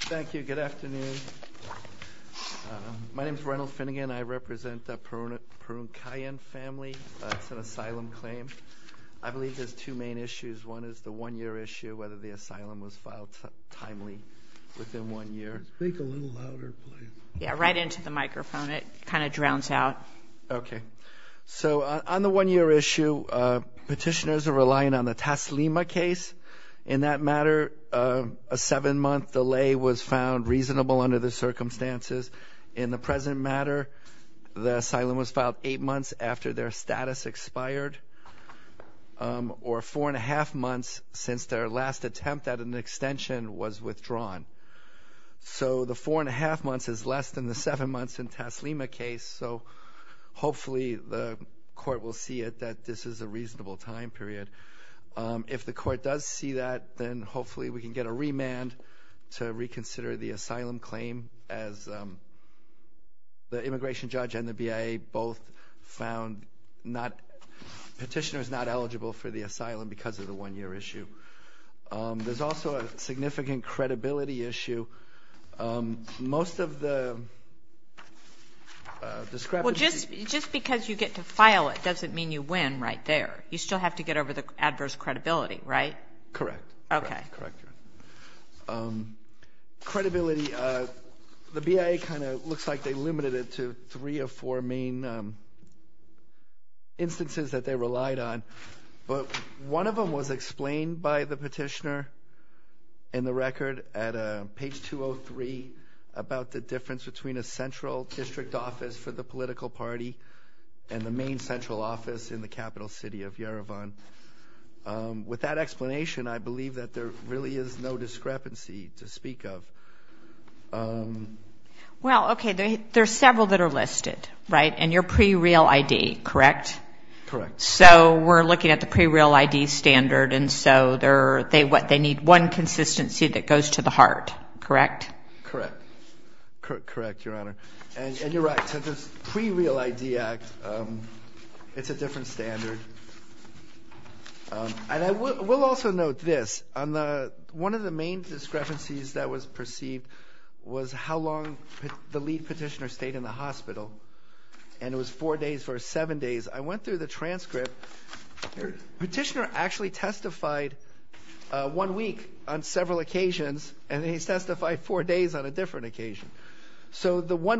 Thank you. Good afternoon. My name is Reynold Finnegan. I represent the Parunakyan family. It's an asylum claim. I believe there's two main issues. One is the one-year issue, whether the asylum was filed timely within one year. Speak a little louder, please. Yeah, right into the microphone. It kind of drowns out. Okay. So on the one-year issue, petitioners are relying on the Taslima case. In that matter, a seven-month delay was found reasonable under the circumstances. In the present matter, the asylum was filed eight months after their status expired or four and a half months since their last attempt at an extension was withdrawn. So the four and a half months is less than the seven months in Taslima case. So hopefully the court will see it that this is a reasonable time period. If the court does see that, then hopefully we can get a remand to reconsider the asylum claim as the immigration judge and the BIA both found petitioners not eligible for the asylum because of the one-year issue. There's also a significant credibility issue. Most of the discrepancy... Well, just because you get to file it doesn't mean you win right there. You still have to get over the adverse credibility, right? Correct. Okay. Correct. Credibility, the BIA kind of looks like they limited it to three or four main instances that they relied on, but one of them was explained by the petitioner in the record at page 203 about the difference between a central district office for the political party and the main central office in the capital city of Yerevan. With that explanation, I believe that there really is no discrepancy to speak of. Well, okay. There's several that are listed, right? And you're pre-real ID, correct? Correct. So we're looking at the pre-real ID standard, and so they need one consistency that goes to the heart, correct? Correct. Correct, Your Honor. And you're right. So this pre-real ID act, it's a different standard. And we'll also note this. One of the main discrepancies that was perceived was how long the lead petitioner stayed in the hospital, and it was four days versus seven days. I went through the transcript. The petitioner actually testified one week on several occasions, and then he testified four days on a different occasion. So the page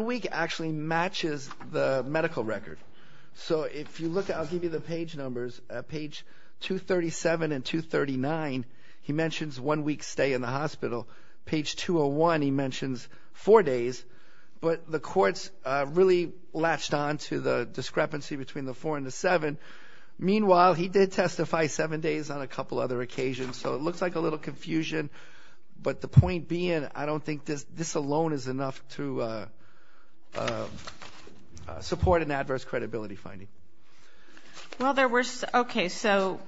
numbers, page 237 and 239, he mentions one week's stay in the hospital. Page 201, he mentions four days. But the courts really latched on to the discrepancy between the four and the seven. Meanwhile, he did testify seven days on a couple other occasions, so it looks like a little confusion. But the point being, I don't think this alone is enough to support an adverse credibility finding. Also,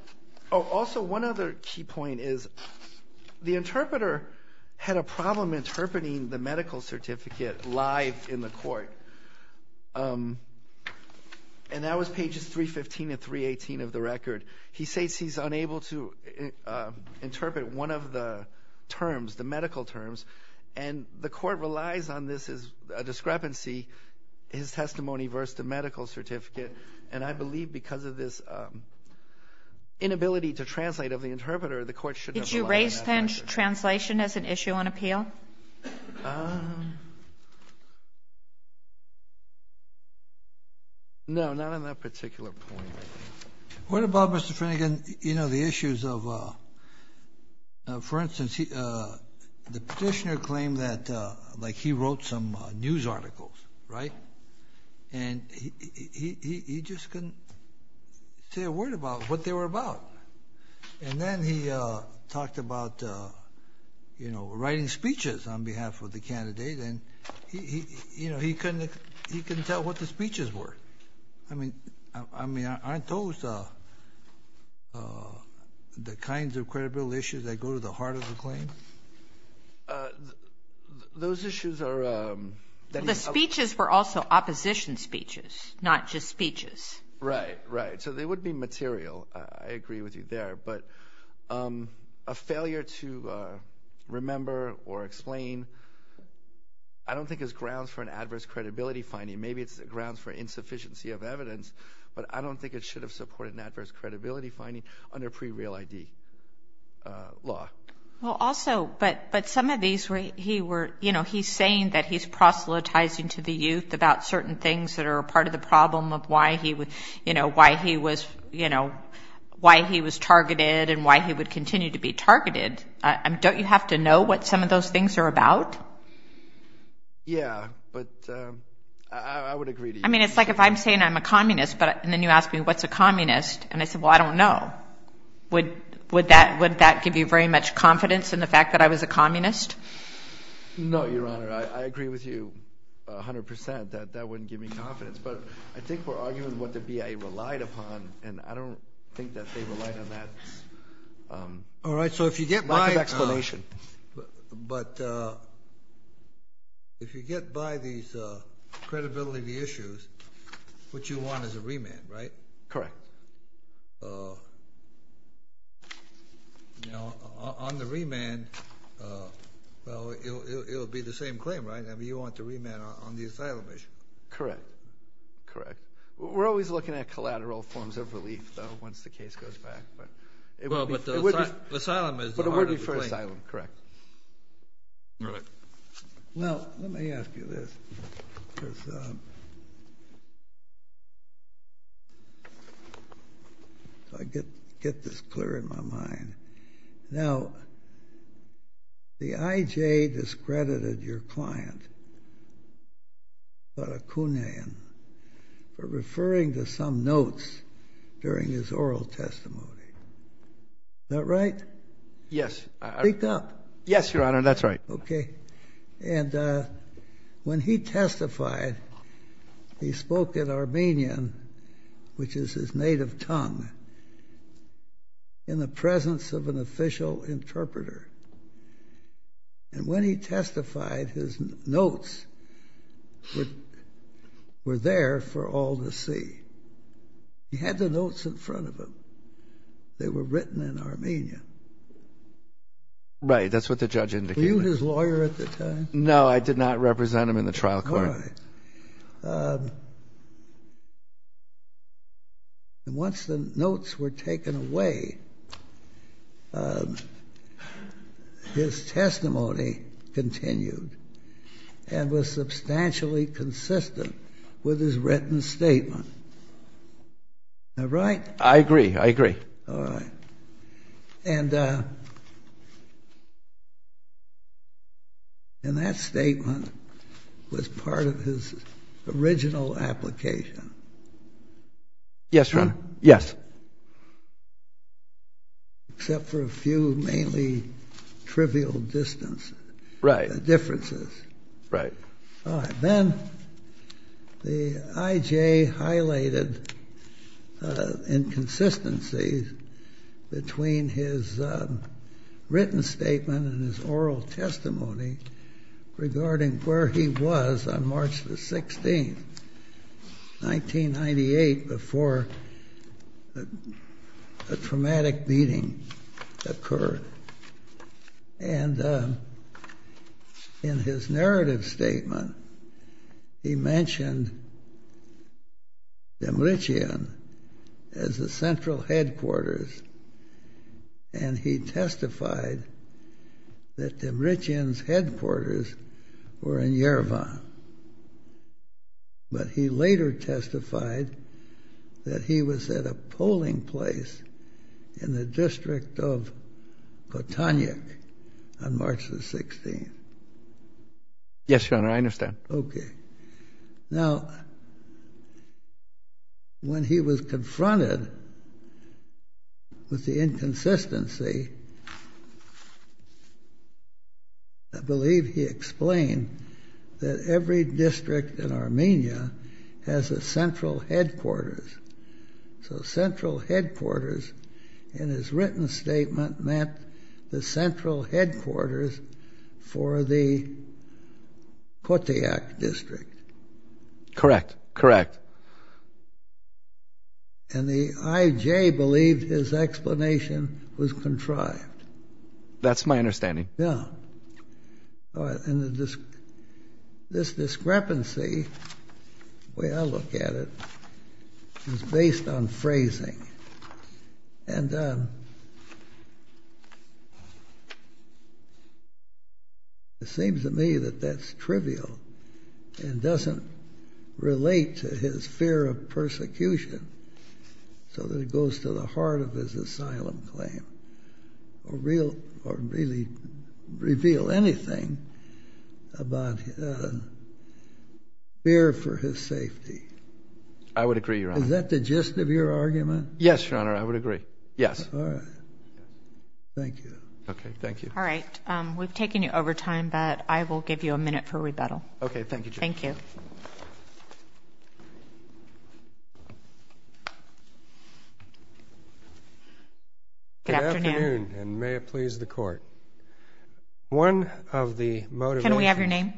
one other key point is the interpreter had a problem interpreting the medical certificate live in the court. And that was pages 315 and 318 of the record. He states he's unable to interpret one of the terms, the medical terms, and the court relies on this as a discrepancy, his testimony versus the medical certificate. And I believe because of this inability to translate of the interpreter, the court should have relied on that version. Kagan. Did you raise translation as an issue on appeal? No, not on that particular point. What about, Mr. Finnegan, the issues of, for instance, the petitioner claimed that he wrote some news articles, right? And he just couldn't say a word about what they were about. And then he talked about, you know, writing speeches on behalf of the candidate. And, you know, he couldn't tell what the speeches were. I mean, aren't those the kinds of credibility issues that go to the heart of the claim? Those issues are... The speeches were also opposition speeches, not just speeches. Right, right. So they would be material. I agree with you there. But a failure to remember or explain I don't think is grounds for an adverse credibility finding. Maybe it's grounds for insufficiency of evidence, but I don't think it should have supported an adverse credibility finding under pre-real ID law. Well, also, but some of these, he were, you know, he's saying that he's proselytizing to the youth about certain things that are part of the problem of why he was, you know, why he was targeted and why he would continue to be targeted. Don't you have to know what some of those things are about? Yeah, but I would agree to you. I mean, it's like if I'm saying I'm a communist, but then you ask me, what's a communist? And I said, well, I don't know. Would that give you very much confidence in the fact that I was a communist? No, Your Honor. I agree with you a hundred percent that that wouldn't give me confidence. But I think we're arguing what the BIA relied upon, and I don't think that they relied on that. All right. So if you get my explanation. But if you get by these credibility issues, what you want is a remand, right? Correct. Now, on the remand, well, it'll be the same claim, right? I mean, you want the remand on the asylum issue. Correct. Correct. We're always looking at collateral forms of relief, though, once the case goes back. Well, but the asylum is the heart of the claim. But it would be for asylum, correct. All right. Well, let me ask you this, because I get this clear in my mind. Now, the IJ discredited your client, Barakunian, for referring to some notes during his oral testimony. Is that right? Yes. Speak up. Yes, Your Honor. That's right. Okay. And when he testified, he spoke in Armenian, which is his native tongue, in the presence of an official interpreter. And when he testified, his notes were there for all to see. He had the notes in front of him. They were written in Armenian. Right. That's what the judge indicated. Were you his lawyer at the time? No, I did not represent him in the trial court. All right. And once the notes were taken away, his testimony continued and was substantially consistent with his written statement. All right? I agree. I agree. All right. And that statement was part of his original application. Yes, Your Honor. Yes. Except for a few mainly trivial differences. Right. All right. Then the I.J. highlighted inconsistencies between his written statement and his oral testimony regarding where he was on March the 16th, 1998, before a traumatic beating occurred. And in his narrative statement, he mentioned Dimrichian as the central headquarters, and he testified that Dimrichian's headquarters were in Yerevan. But he later testified that he was at a polling place in the district of Kotanik on March the 16th. Yes, Your Honor. I understand. Okay. Now, when he was confronted with the inconsistency, I believe he explained that every district in Armenia has a central headquarters. So central headquarters in his written statement meant the central headquarters for the Kotayak district. Correct. Correct. And the I.J. believed his explanation was contrived. That's my understanding. Yeah. And this discrepancy, the way I look at it, is based on phrasing. And it seems to me that that's trivial and doesn't relate to his fear of anything about fear for his safety. I would agree, Your Honor. Is that the gist of your argument? Yes, Your Honor. I would agree. Yes. All right. Thank you. Okay. Thank you. All right. We've taken you over time, but I will give you a minute for rebuttal. Okay. Thank you, Judge. Thank you. Good afternoon. Good afternoon, and may it please the Court. One of the motivations. Can we have your name?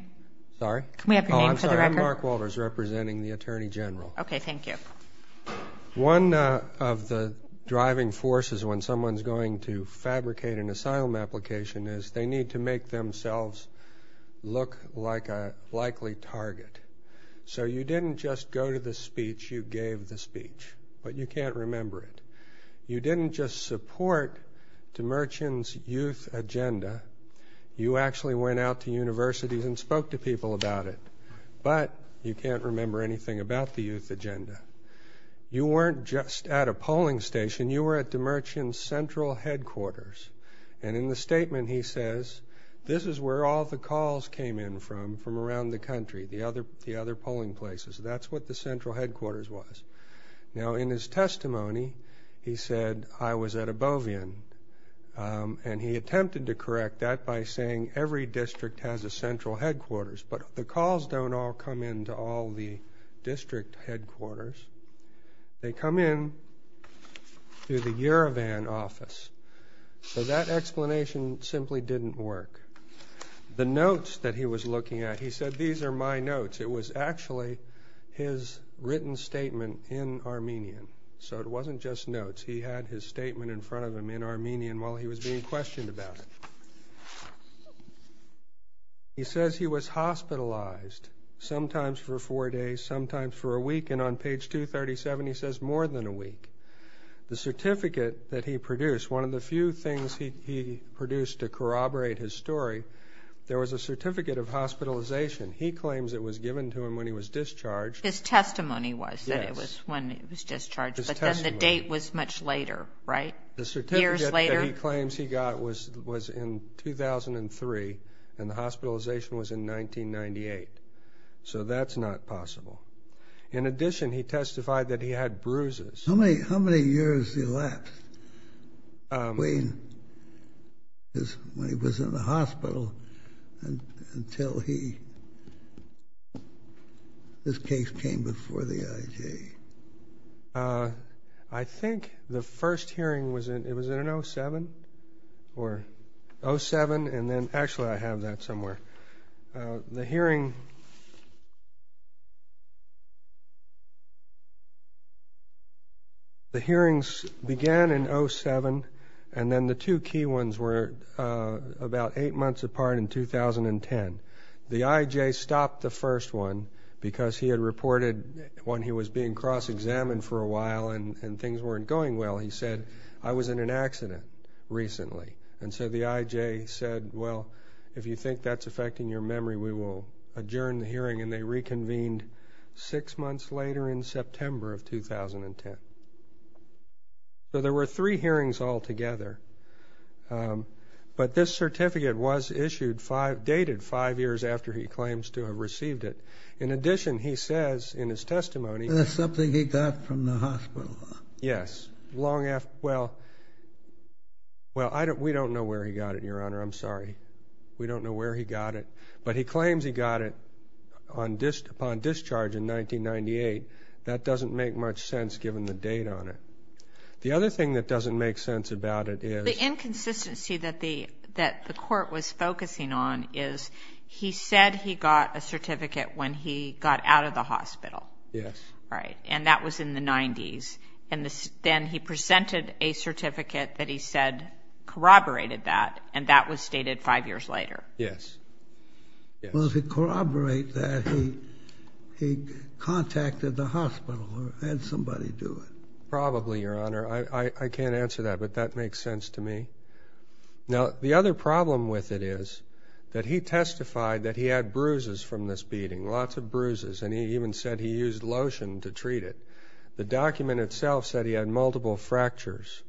Sorry? Can we have your name for the record? Oh, I'm sorry. I'm Mark Walters, representing the Attorney General. Okay. Thank you. One of the driving forces when someone's going to fabricate an asylum application is they need to make themselves look like a likely target. So you didn't just go to the speech, you gave the speech, but you can't remember it. You didn't just support Demerchian's youth agenda. You actually went out to universities and spoke to people about it, but you can't remember anything about the youth agenda. You weren't just at a polling station. You were at Demerchian's central headquarters, and in the statement he says, this is where all the calls came in from, from around the country, the other polling places. That's what the central headquarters was. Now, in his testimony, he said, I was at Abovian, and he attempted to correct that by saying every district has a central headquarters, but the calls don't all come in to all the district headquarters. They come in through the Yerevan office. So that explanation simply didn't work. The notes that he was looking at, he said, these are my notes. It was actually his written statement in Armenian. So it wasn't just notes. He had his statement in front of him in Armenian while he was being questioned about it. He says he was hospitalized, sometimes for four days, sometimes for a week, and on page 237 he says more than a week. The certificate that he produced, one of the few things he produced to corroborate his story, there was a certificate of hospitalization. He claims it was given to him when he was discharged. His testimony was that it was when he was discharged, but then the date was much later, right? Years later? The certificate that he claims he got was in 2003, and the hospitalization was in 1998. So that's not possible. In addition, he testified that he had bruises. How many years elapsed between when he was in the hospital until his case came before the IJ? I think the first hearing was in, it was in an 07, or 07, and then actually I have that somewhere. The hearing began in 07, and then the two key ones were about eight months apart in 2010. The IJ stopped the first one because he had reported when he was being cross-examined for a while and things weren't going well, he said, I was in an accident recently. And so the IJ said, well, if you think that's affecting your memory, we will adjourn the hearing, and they reconvened six months later in September of 2010. So there were three hearings altogether, but this certificate was issued five, dated five years after he claims to have received it. In addition, he says in his testimony- That's something he got from the hospital. Yes. Well, we don't know where he got it, Your Honor, I'm sorry. We don't know where he got it. But he claims he got it upon discharge in 1998. That doesn't make much sense given the date on it. The other thing that doesn't make sense about it is- The inconsistency that the court was focusing on is he said he got a certificate when he got out of the hospital. Yes. Right, and that was in the 90s. And then he presented a certificate that he said corroborated that, and that was stated five years later. Yes. Well, if it corroborates that, he contacted the hospital or had somebody do it. Probably, Your Honor. I can't answer that, but that makes sense to me. Now, the other problem with it is that he testified that he had bruises from this beating, lots of bruises, and he even said he used lotion to treat it. The document itself said he had multiple fractures,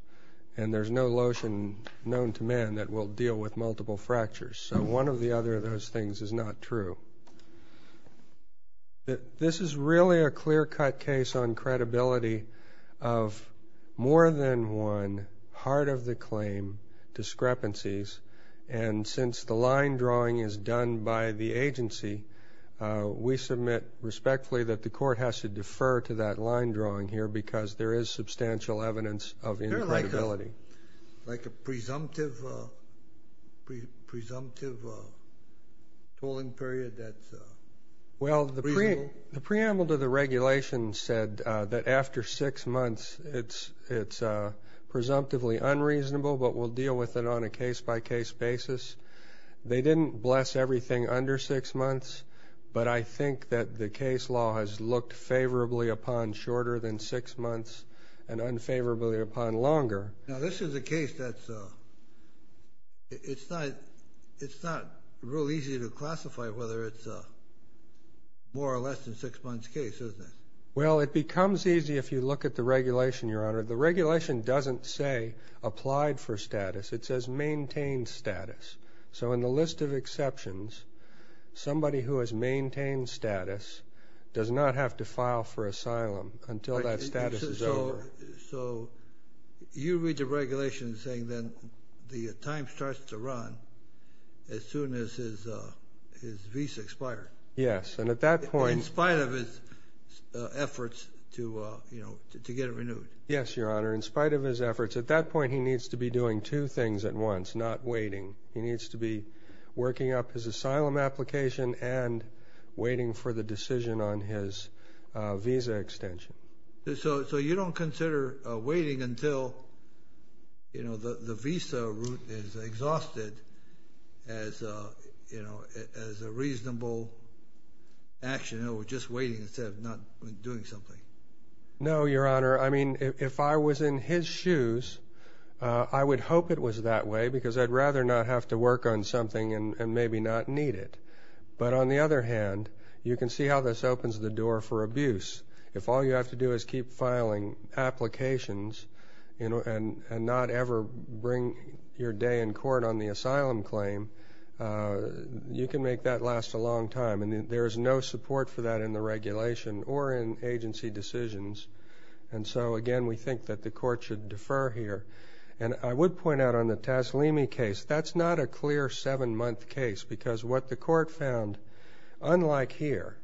and there's no lotion known to man that will deal with multiple fractures. So one of the other of those things is not true. This is really a clear-cut case on credibility of more than one part of the claim discrepancies, and since the line drawing is done by the agency, we submit respectfully that the court has to defer to that line drawing here because there is substantial evidence of incredibility. Is there like a presumptive tolling period that's reasonable? Well, the preamble to the regulation said that after six months it's presumptively unreasonable, but we'll deal with it on a case-by-case basis. They didn't bless everything under six months, but I think that the case law has looked favorably upon shorter than six months and unfavorably upon longer. Now, this is a case that's not real easy to classify whether it's a more or less than six months case, isn't it? Well, it becomes easy if you look at the regulation, Your Honor. The regulation doesn't say applied for status. It says maintained status. So in the list of exceptions, somebody who has maintained status does not have to file for asylum until that status is over. So you read the regulation saying then the time starts to run as soon as his visa expires. Yes, and at that point – In spite of his efforts to get it renewed. Yes, Your Honor. In spite of his efforts, at that point he needs to be doing two things at once, not waiting. He needs to be working up his asylum application and waiting for the decision on his visa extension. So you don't consider waiting until the visa route is exhausted as a reasonable action, just waiting instead of not doing something? No, Your Honor. I mean, if I was in his shoes, I would hope it was that way because I'd rather not have to work on something and maybe not need it. But on the other hand, you can see how this opens the door for abuse. If all you have to do is keep filing applications and not ever bring your day in court on the asylum claim, you can make that last a long time. And there is no support for that in the regulation or in agency decisions. And so, again, we think that the court should defer here. And I would point out on the Taslimi case, that's not a clear seven-month case because what the court found, unlike here,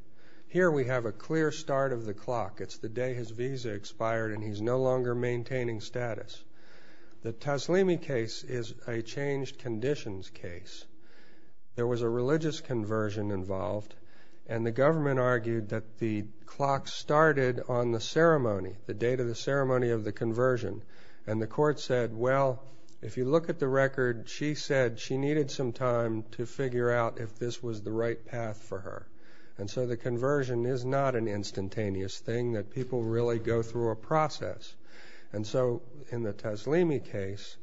here we have a clear start of the clock. It's the day his visa expired and he's no longer maintaining status. The Taslimi case is a changed conditions case. There was a religious conversion involved, and the government argued that the clock started on the ceremony, the date of the ceremony of the conversion. And the court said, well, if you look at the record, she said she needed some time to figure out if this was the right path for her. And so the conversion is not an instantaneous thing that people really go through a process. And so in the Taslimi case,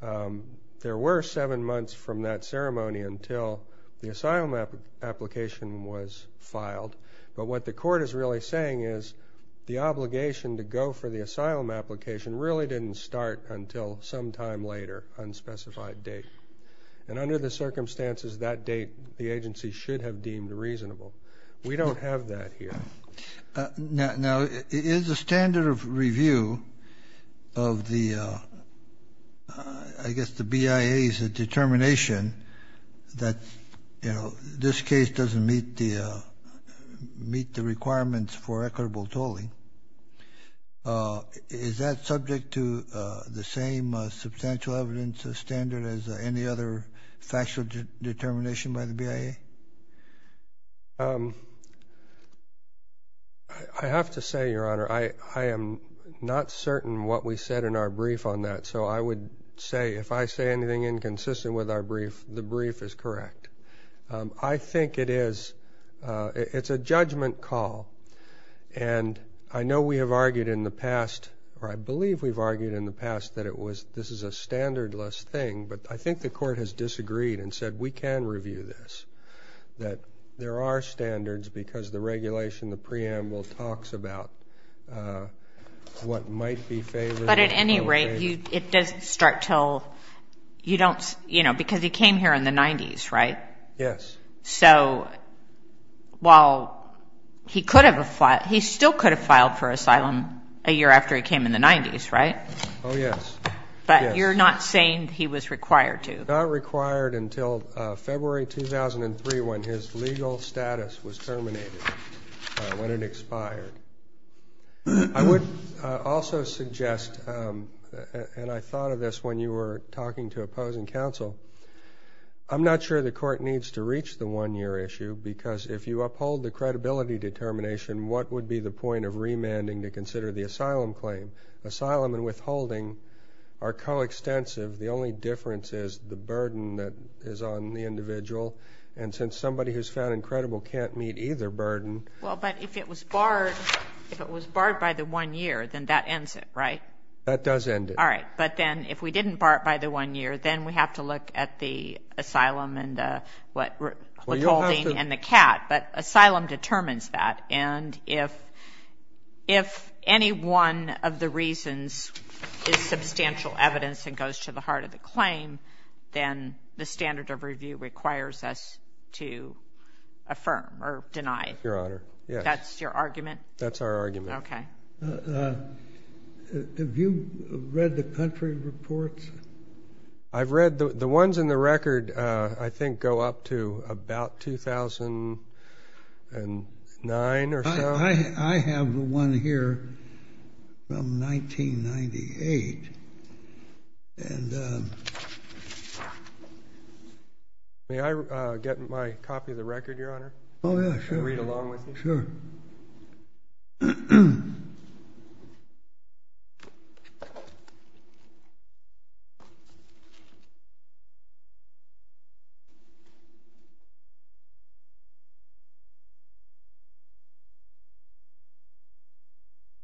there were seven months from that ceremony until the asylum application was filed. But what the court is really saying is the obligation to go for the asylum application really didn't start until sometime later, unspecified date. And under the circumstances that date, the agency should have deemed reasonable. We don't have that here. Now, is the standard of review of the, I guess the BIA's determination that, you know, this case doesn't meet the requirements for equitable tolling, is that subject to the same substantial evidence standard as any other factual determination by the BIA? I have to say, Your Honor, I am not certain what we said in our brief on that. So I would say if I say anything inconsistent with our brief, the brief is correct. I think it is. It's a judgment call. And I know we have argued in the past, or I believe we've argued in the past, that this is a standardless thing. But I think the court has disagreed and said we can review this, that there are standards because the regulation, the preamble talks about what might be favorable. But at any rate, it doesn't start until you don't, you know, because he came here in the 90s, right? Yes. So while he could have, he still could have filed for asylum a year after he came in the 90s, right? Oh, yes. But you're not saying he was required to? Not required until February 2003 when his legal status was terminated, when it expired. I would also suggest, and I thought of this when you were talking to opposing counsel, I'm not sure the court needs to reach the one-year issue because if you uphold the credibility determination, what would be the point of remanding to consider the asylum claim? Asylum and withholding are coextensive. The only difference is the burden that is on the individual. And since somebody who's found incredible can't meet either burden. Well, but if it was barred, if it was barred by the one year, then that ends it, right? That does end it. All right. But then if we didn't bar it by the one year, then we have to look at the asylum and what withholding and the CAT. But asylum determines that. And if any one of the reasons is substantial evidence and goes to the heart of the claim, then the standard of review requires us to affirm or deny it. Yes, Your Honor. That's your argument? That's our argument. Okay. Have you read the country reports? I've read the ones in the record I think go up to about 2009 or so. I have one here from 1998. May I get my copy of the record, Your Honor? Oh, yeah, sure. Can I read along with you? Sure.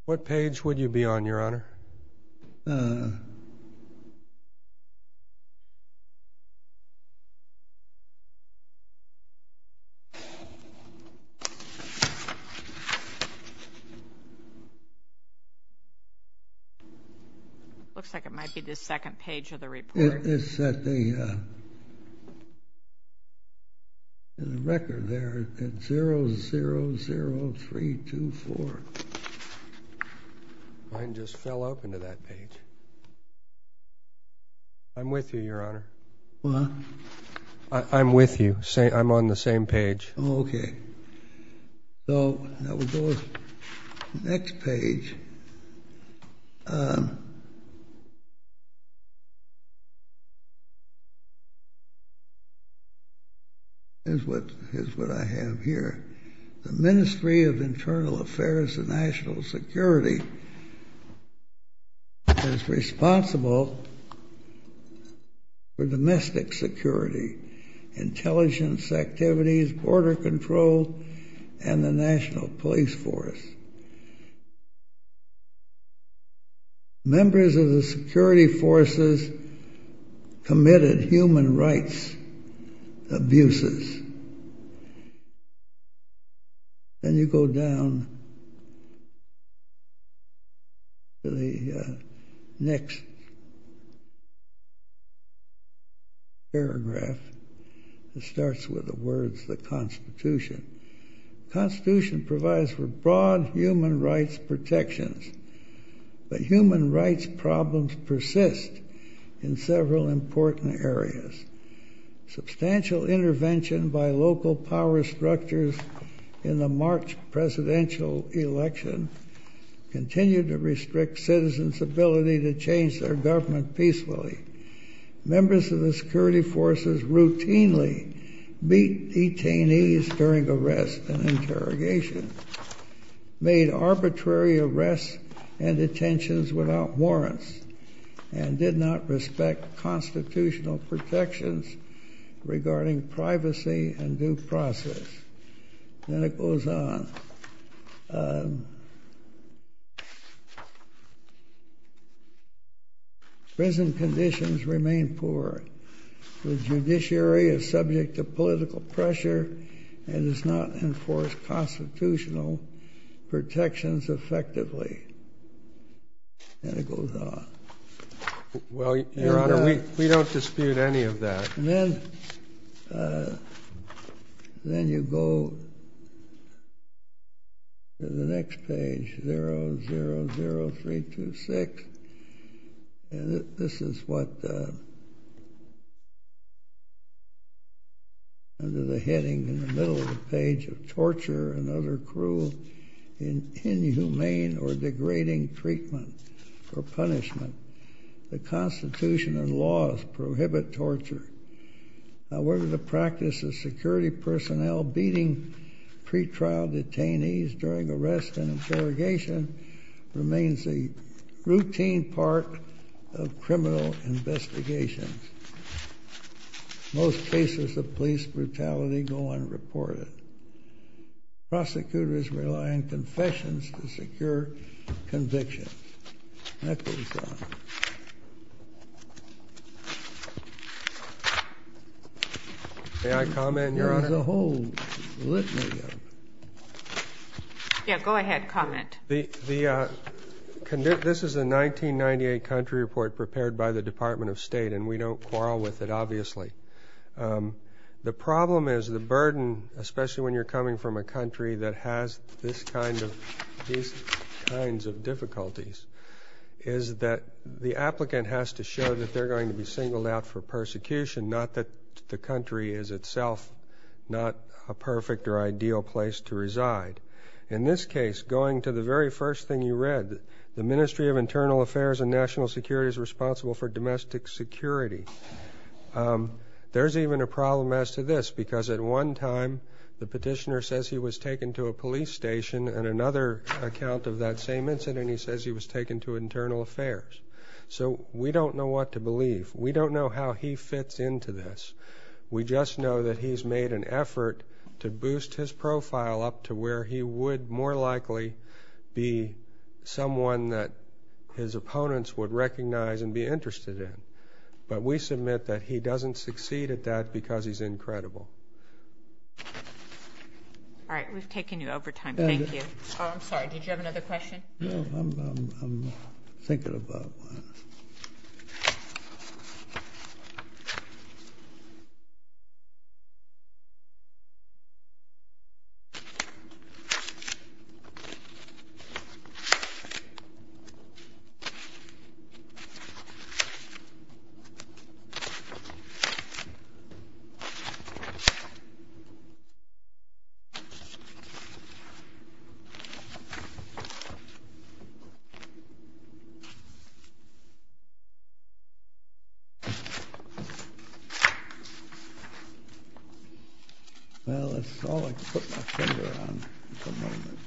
What page would you be on, Your Honor? It looks like it might be the second page of the report. It's in the record there, 000324. Mine just fell open to that page. I'm with you, Your Honor. What? I'm with you. I'm on the same page. Oh, okay. So that would go to the next page. Here's what I have here. The Ministry of Internal Affairs and National Security is responsible for domestic security, intelligence activities, border control, and the National Police Force. Members of the security forces committed human rights abuses. Then you go down to the next paragraph. It starts with the words, the Constitution. The Constitution provides for broad human rights protections, but human rights problems persist in several important areas. Substantial intervention by local power structures in the March presidential election continued to restrict citizens' ability to change their government peacefully. Members of the security forces routinely beat detainees during arrest and interrogation, made arbitrary arrests and detentions without warrants, and did not respect constitutional protections regarding privacy and due process. Then it goes on. Prison conditions remain poor. The judiciary is subject to political pressure and does not enforce constitutional protections effectively. And it goes on. Well, Your Honor, we don't dispute any of that. And then you go to the next page, 000326. And this is what, under the heading in the middle of the page, of torture and other cruel, inhumane, or degrading treatment or punishment. The Constitution and laws prohibit torture. However, the practice of security personnel beating pretrial detainees during arrest and interrogation remains a routine part of criminal investigations. Most cases of police brutality go unreported. Prosecutors rely on confessions to secure convictions. That goes on. May I comment, Your Honor? There is a whole litany of them. Yeah, go ahead, comment. This is a 1998 country report prepared by the Department of State, and we don't quarrel with it, obviously. The problem is the burden, especially when you're coming from a country that has these kinds of difficulties, is that the applicant has to show that they're going to be singled out for persecution, not that the country is itself not a perfect or ideal place to reside. In this case, going to the very first thing you read, the Ministry of Internal Affairs and National Security is responsible for domestic security. There's even a problem as to this, because at one time the petitioner says he was taken to a police station, and another account of that same incident, he says he was taken to internal affairs. So we don't know what to believe. We don't know how he fits into this. We just know that he's made an effort to boost his profile up to where he would more likely be someone that his opponents would recognize and be interested in. But we submit that he doesn't succeed at that because he's incredible. All right. We've taken you over time. Thank you. Oh, I'm sorry. Did you have another question? No. I'm thinking about one. Well, it's all I can put my finger on at the moment.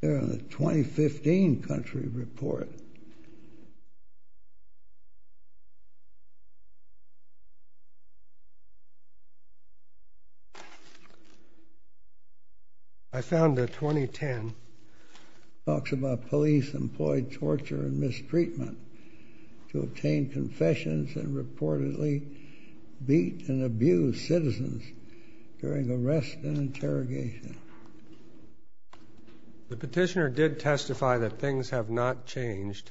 We're on the 2015 country report. I found the 2010. It talks about police employed torture and mistreatment to obtain confessions and reportedly beat and abused citizens during arrest and interrogation. The petitioner did testify that things have not changed.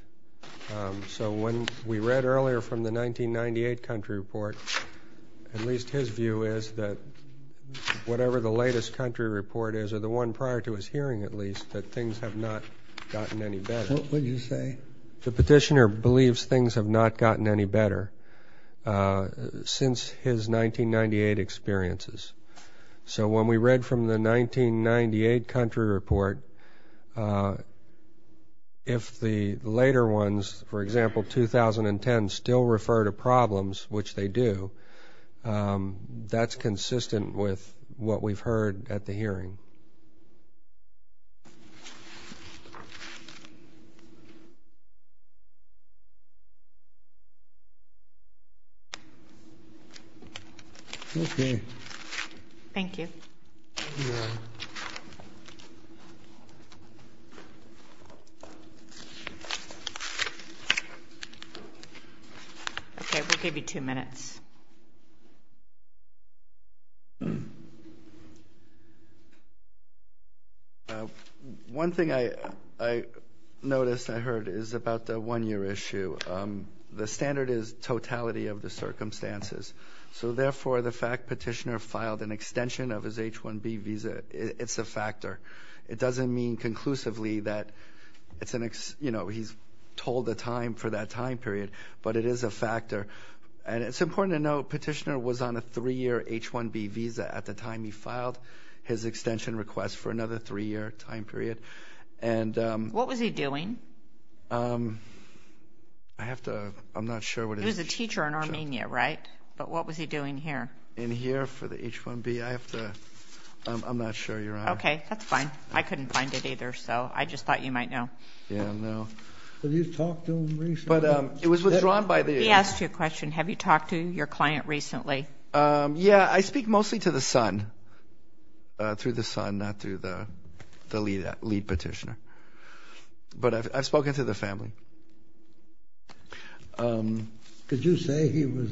So when we read earlier from the 1998 country report, at least his view is that whatever the latest country report is, or the one prior to his hearing at least, that things have not gotten any better. What would you say? The petitioner believes things have not gotten any better since his 1998 experiences. So when we read from the 1998 country report, if the later ones, for example, 2010, still refer to problems, which they do, that's consistent with what we've heard at the hearing. Okay. Thank you. Thank you. Okay, we'll give you two minutes. One thing I noticed, I heard, is about the one-year issue. The standard is totality of the circumstances. So therefore, the fact petitioner filed an extension of his H-1B visa, it's a factor. It doesn't mean conclusively that he's told the time for that time period, but it is a factor. And it's important to note petitioner was on a three-year H-1B visa at the time he filed his extension request for another three-year time period. What was he doing? I'm not sure what his job was. He was a teacher in Armenia, right? But what was he doing here? In here for the H-1B? I'm not sure, Your Honor. Okay, that's fine. I couldn't find it either, so I just thought you might know. Yeah, no. But he's talked to them recently. He asked you a question. Have you talked to your client recently? Yeah, I speak mostly to the son, through the son, not through the lead petitioner. But I've spoken to the family. Did you say he was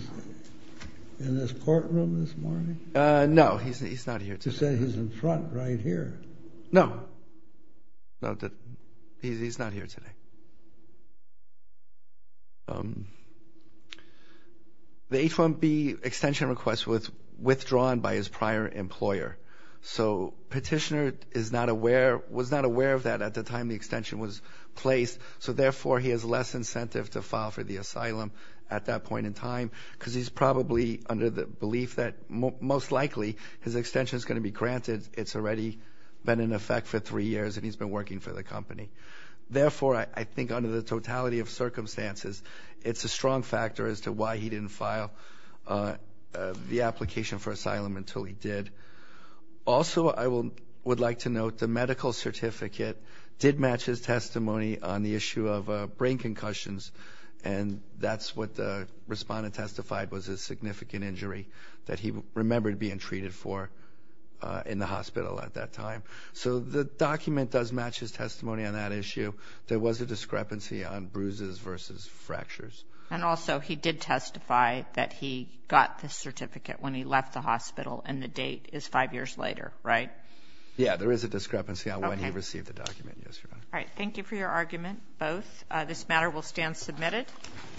in this courtroom this morning? No, he's not here today. You said he's in front right here. No, he's not here today. The H-1B extension request was withdrawn by his prior employer, so the petitioner was not aware of that at the time the extension was placed, so therefore he has less incentive to file for the asylum at that point in time because he's probably under the belief that most likely his extension is going to be granted. It's already been in effect for three years, and he's been working for the company. Therefore, I think under the totality of circumstances, it's a strong factor as to why he didn't file the application for asylum until he did. Also, I would like to note the medical certificate did match his testimony on the issue of brain concussions, and that's what the respondent testified was a significant injury that he remembered being treated for in the hospital at that time. So the document does match his testimony on that issue. There was a discrepancy on bruises versus fractures. And also he did testify that he got the certificate when he left the hospital, and the date is five years later, right? Yeah, there is a discrepancy on when he received the document, yes, Your Honor. All right, thank you for your argument, both. This matter will stand submitted.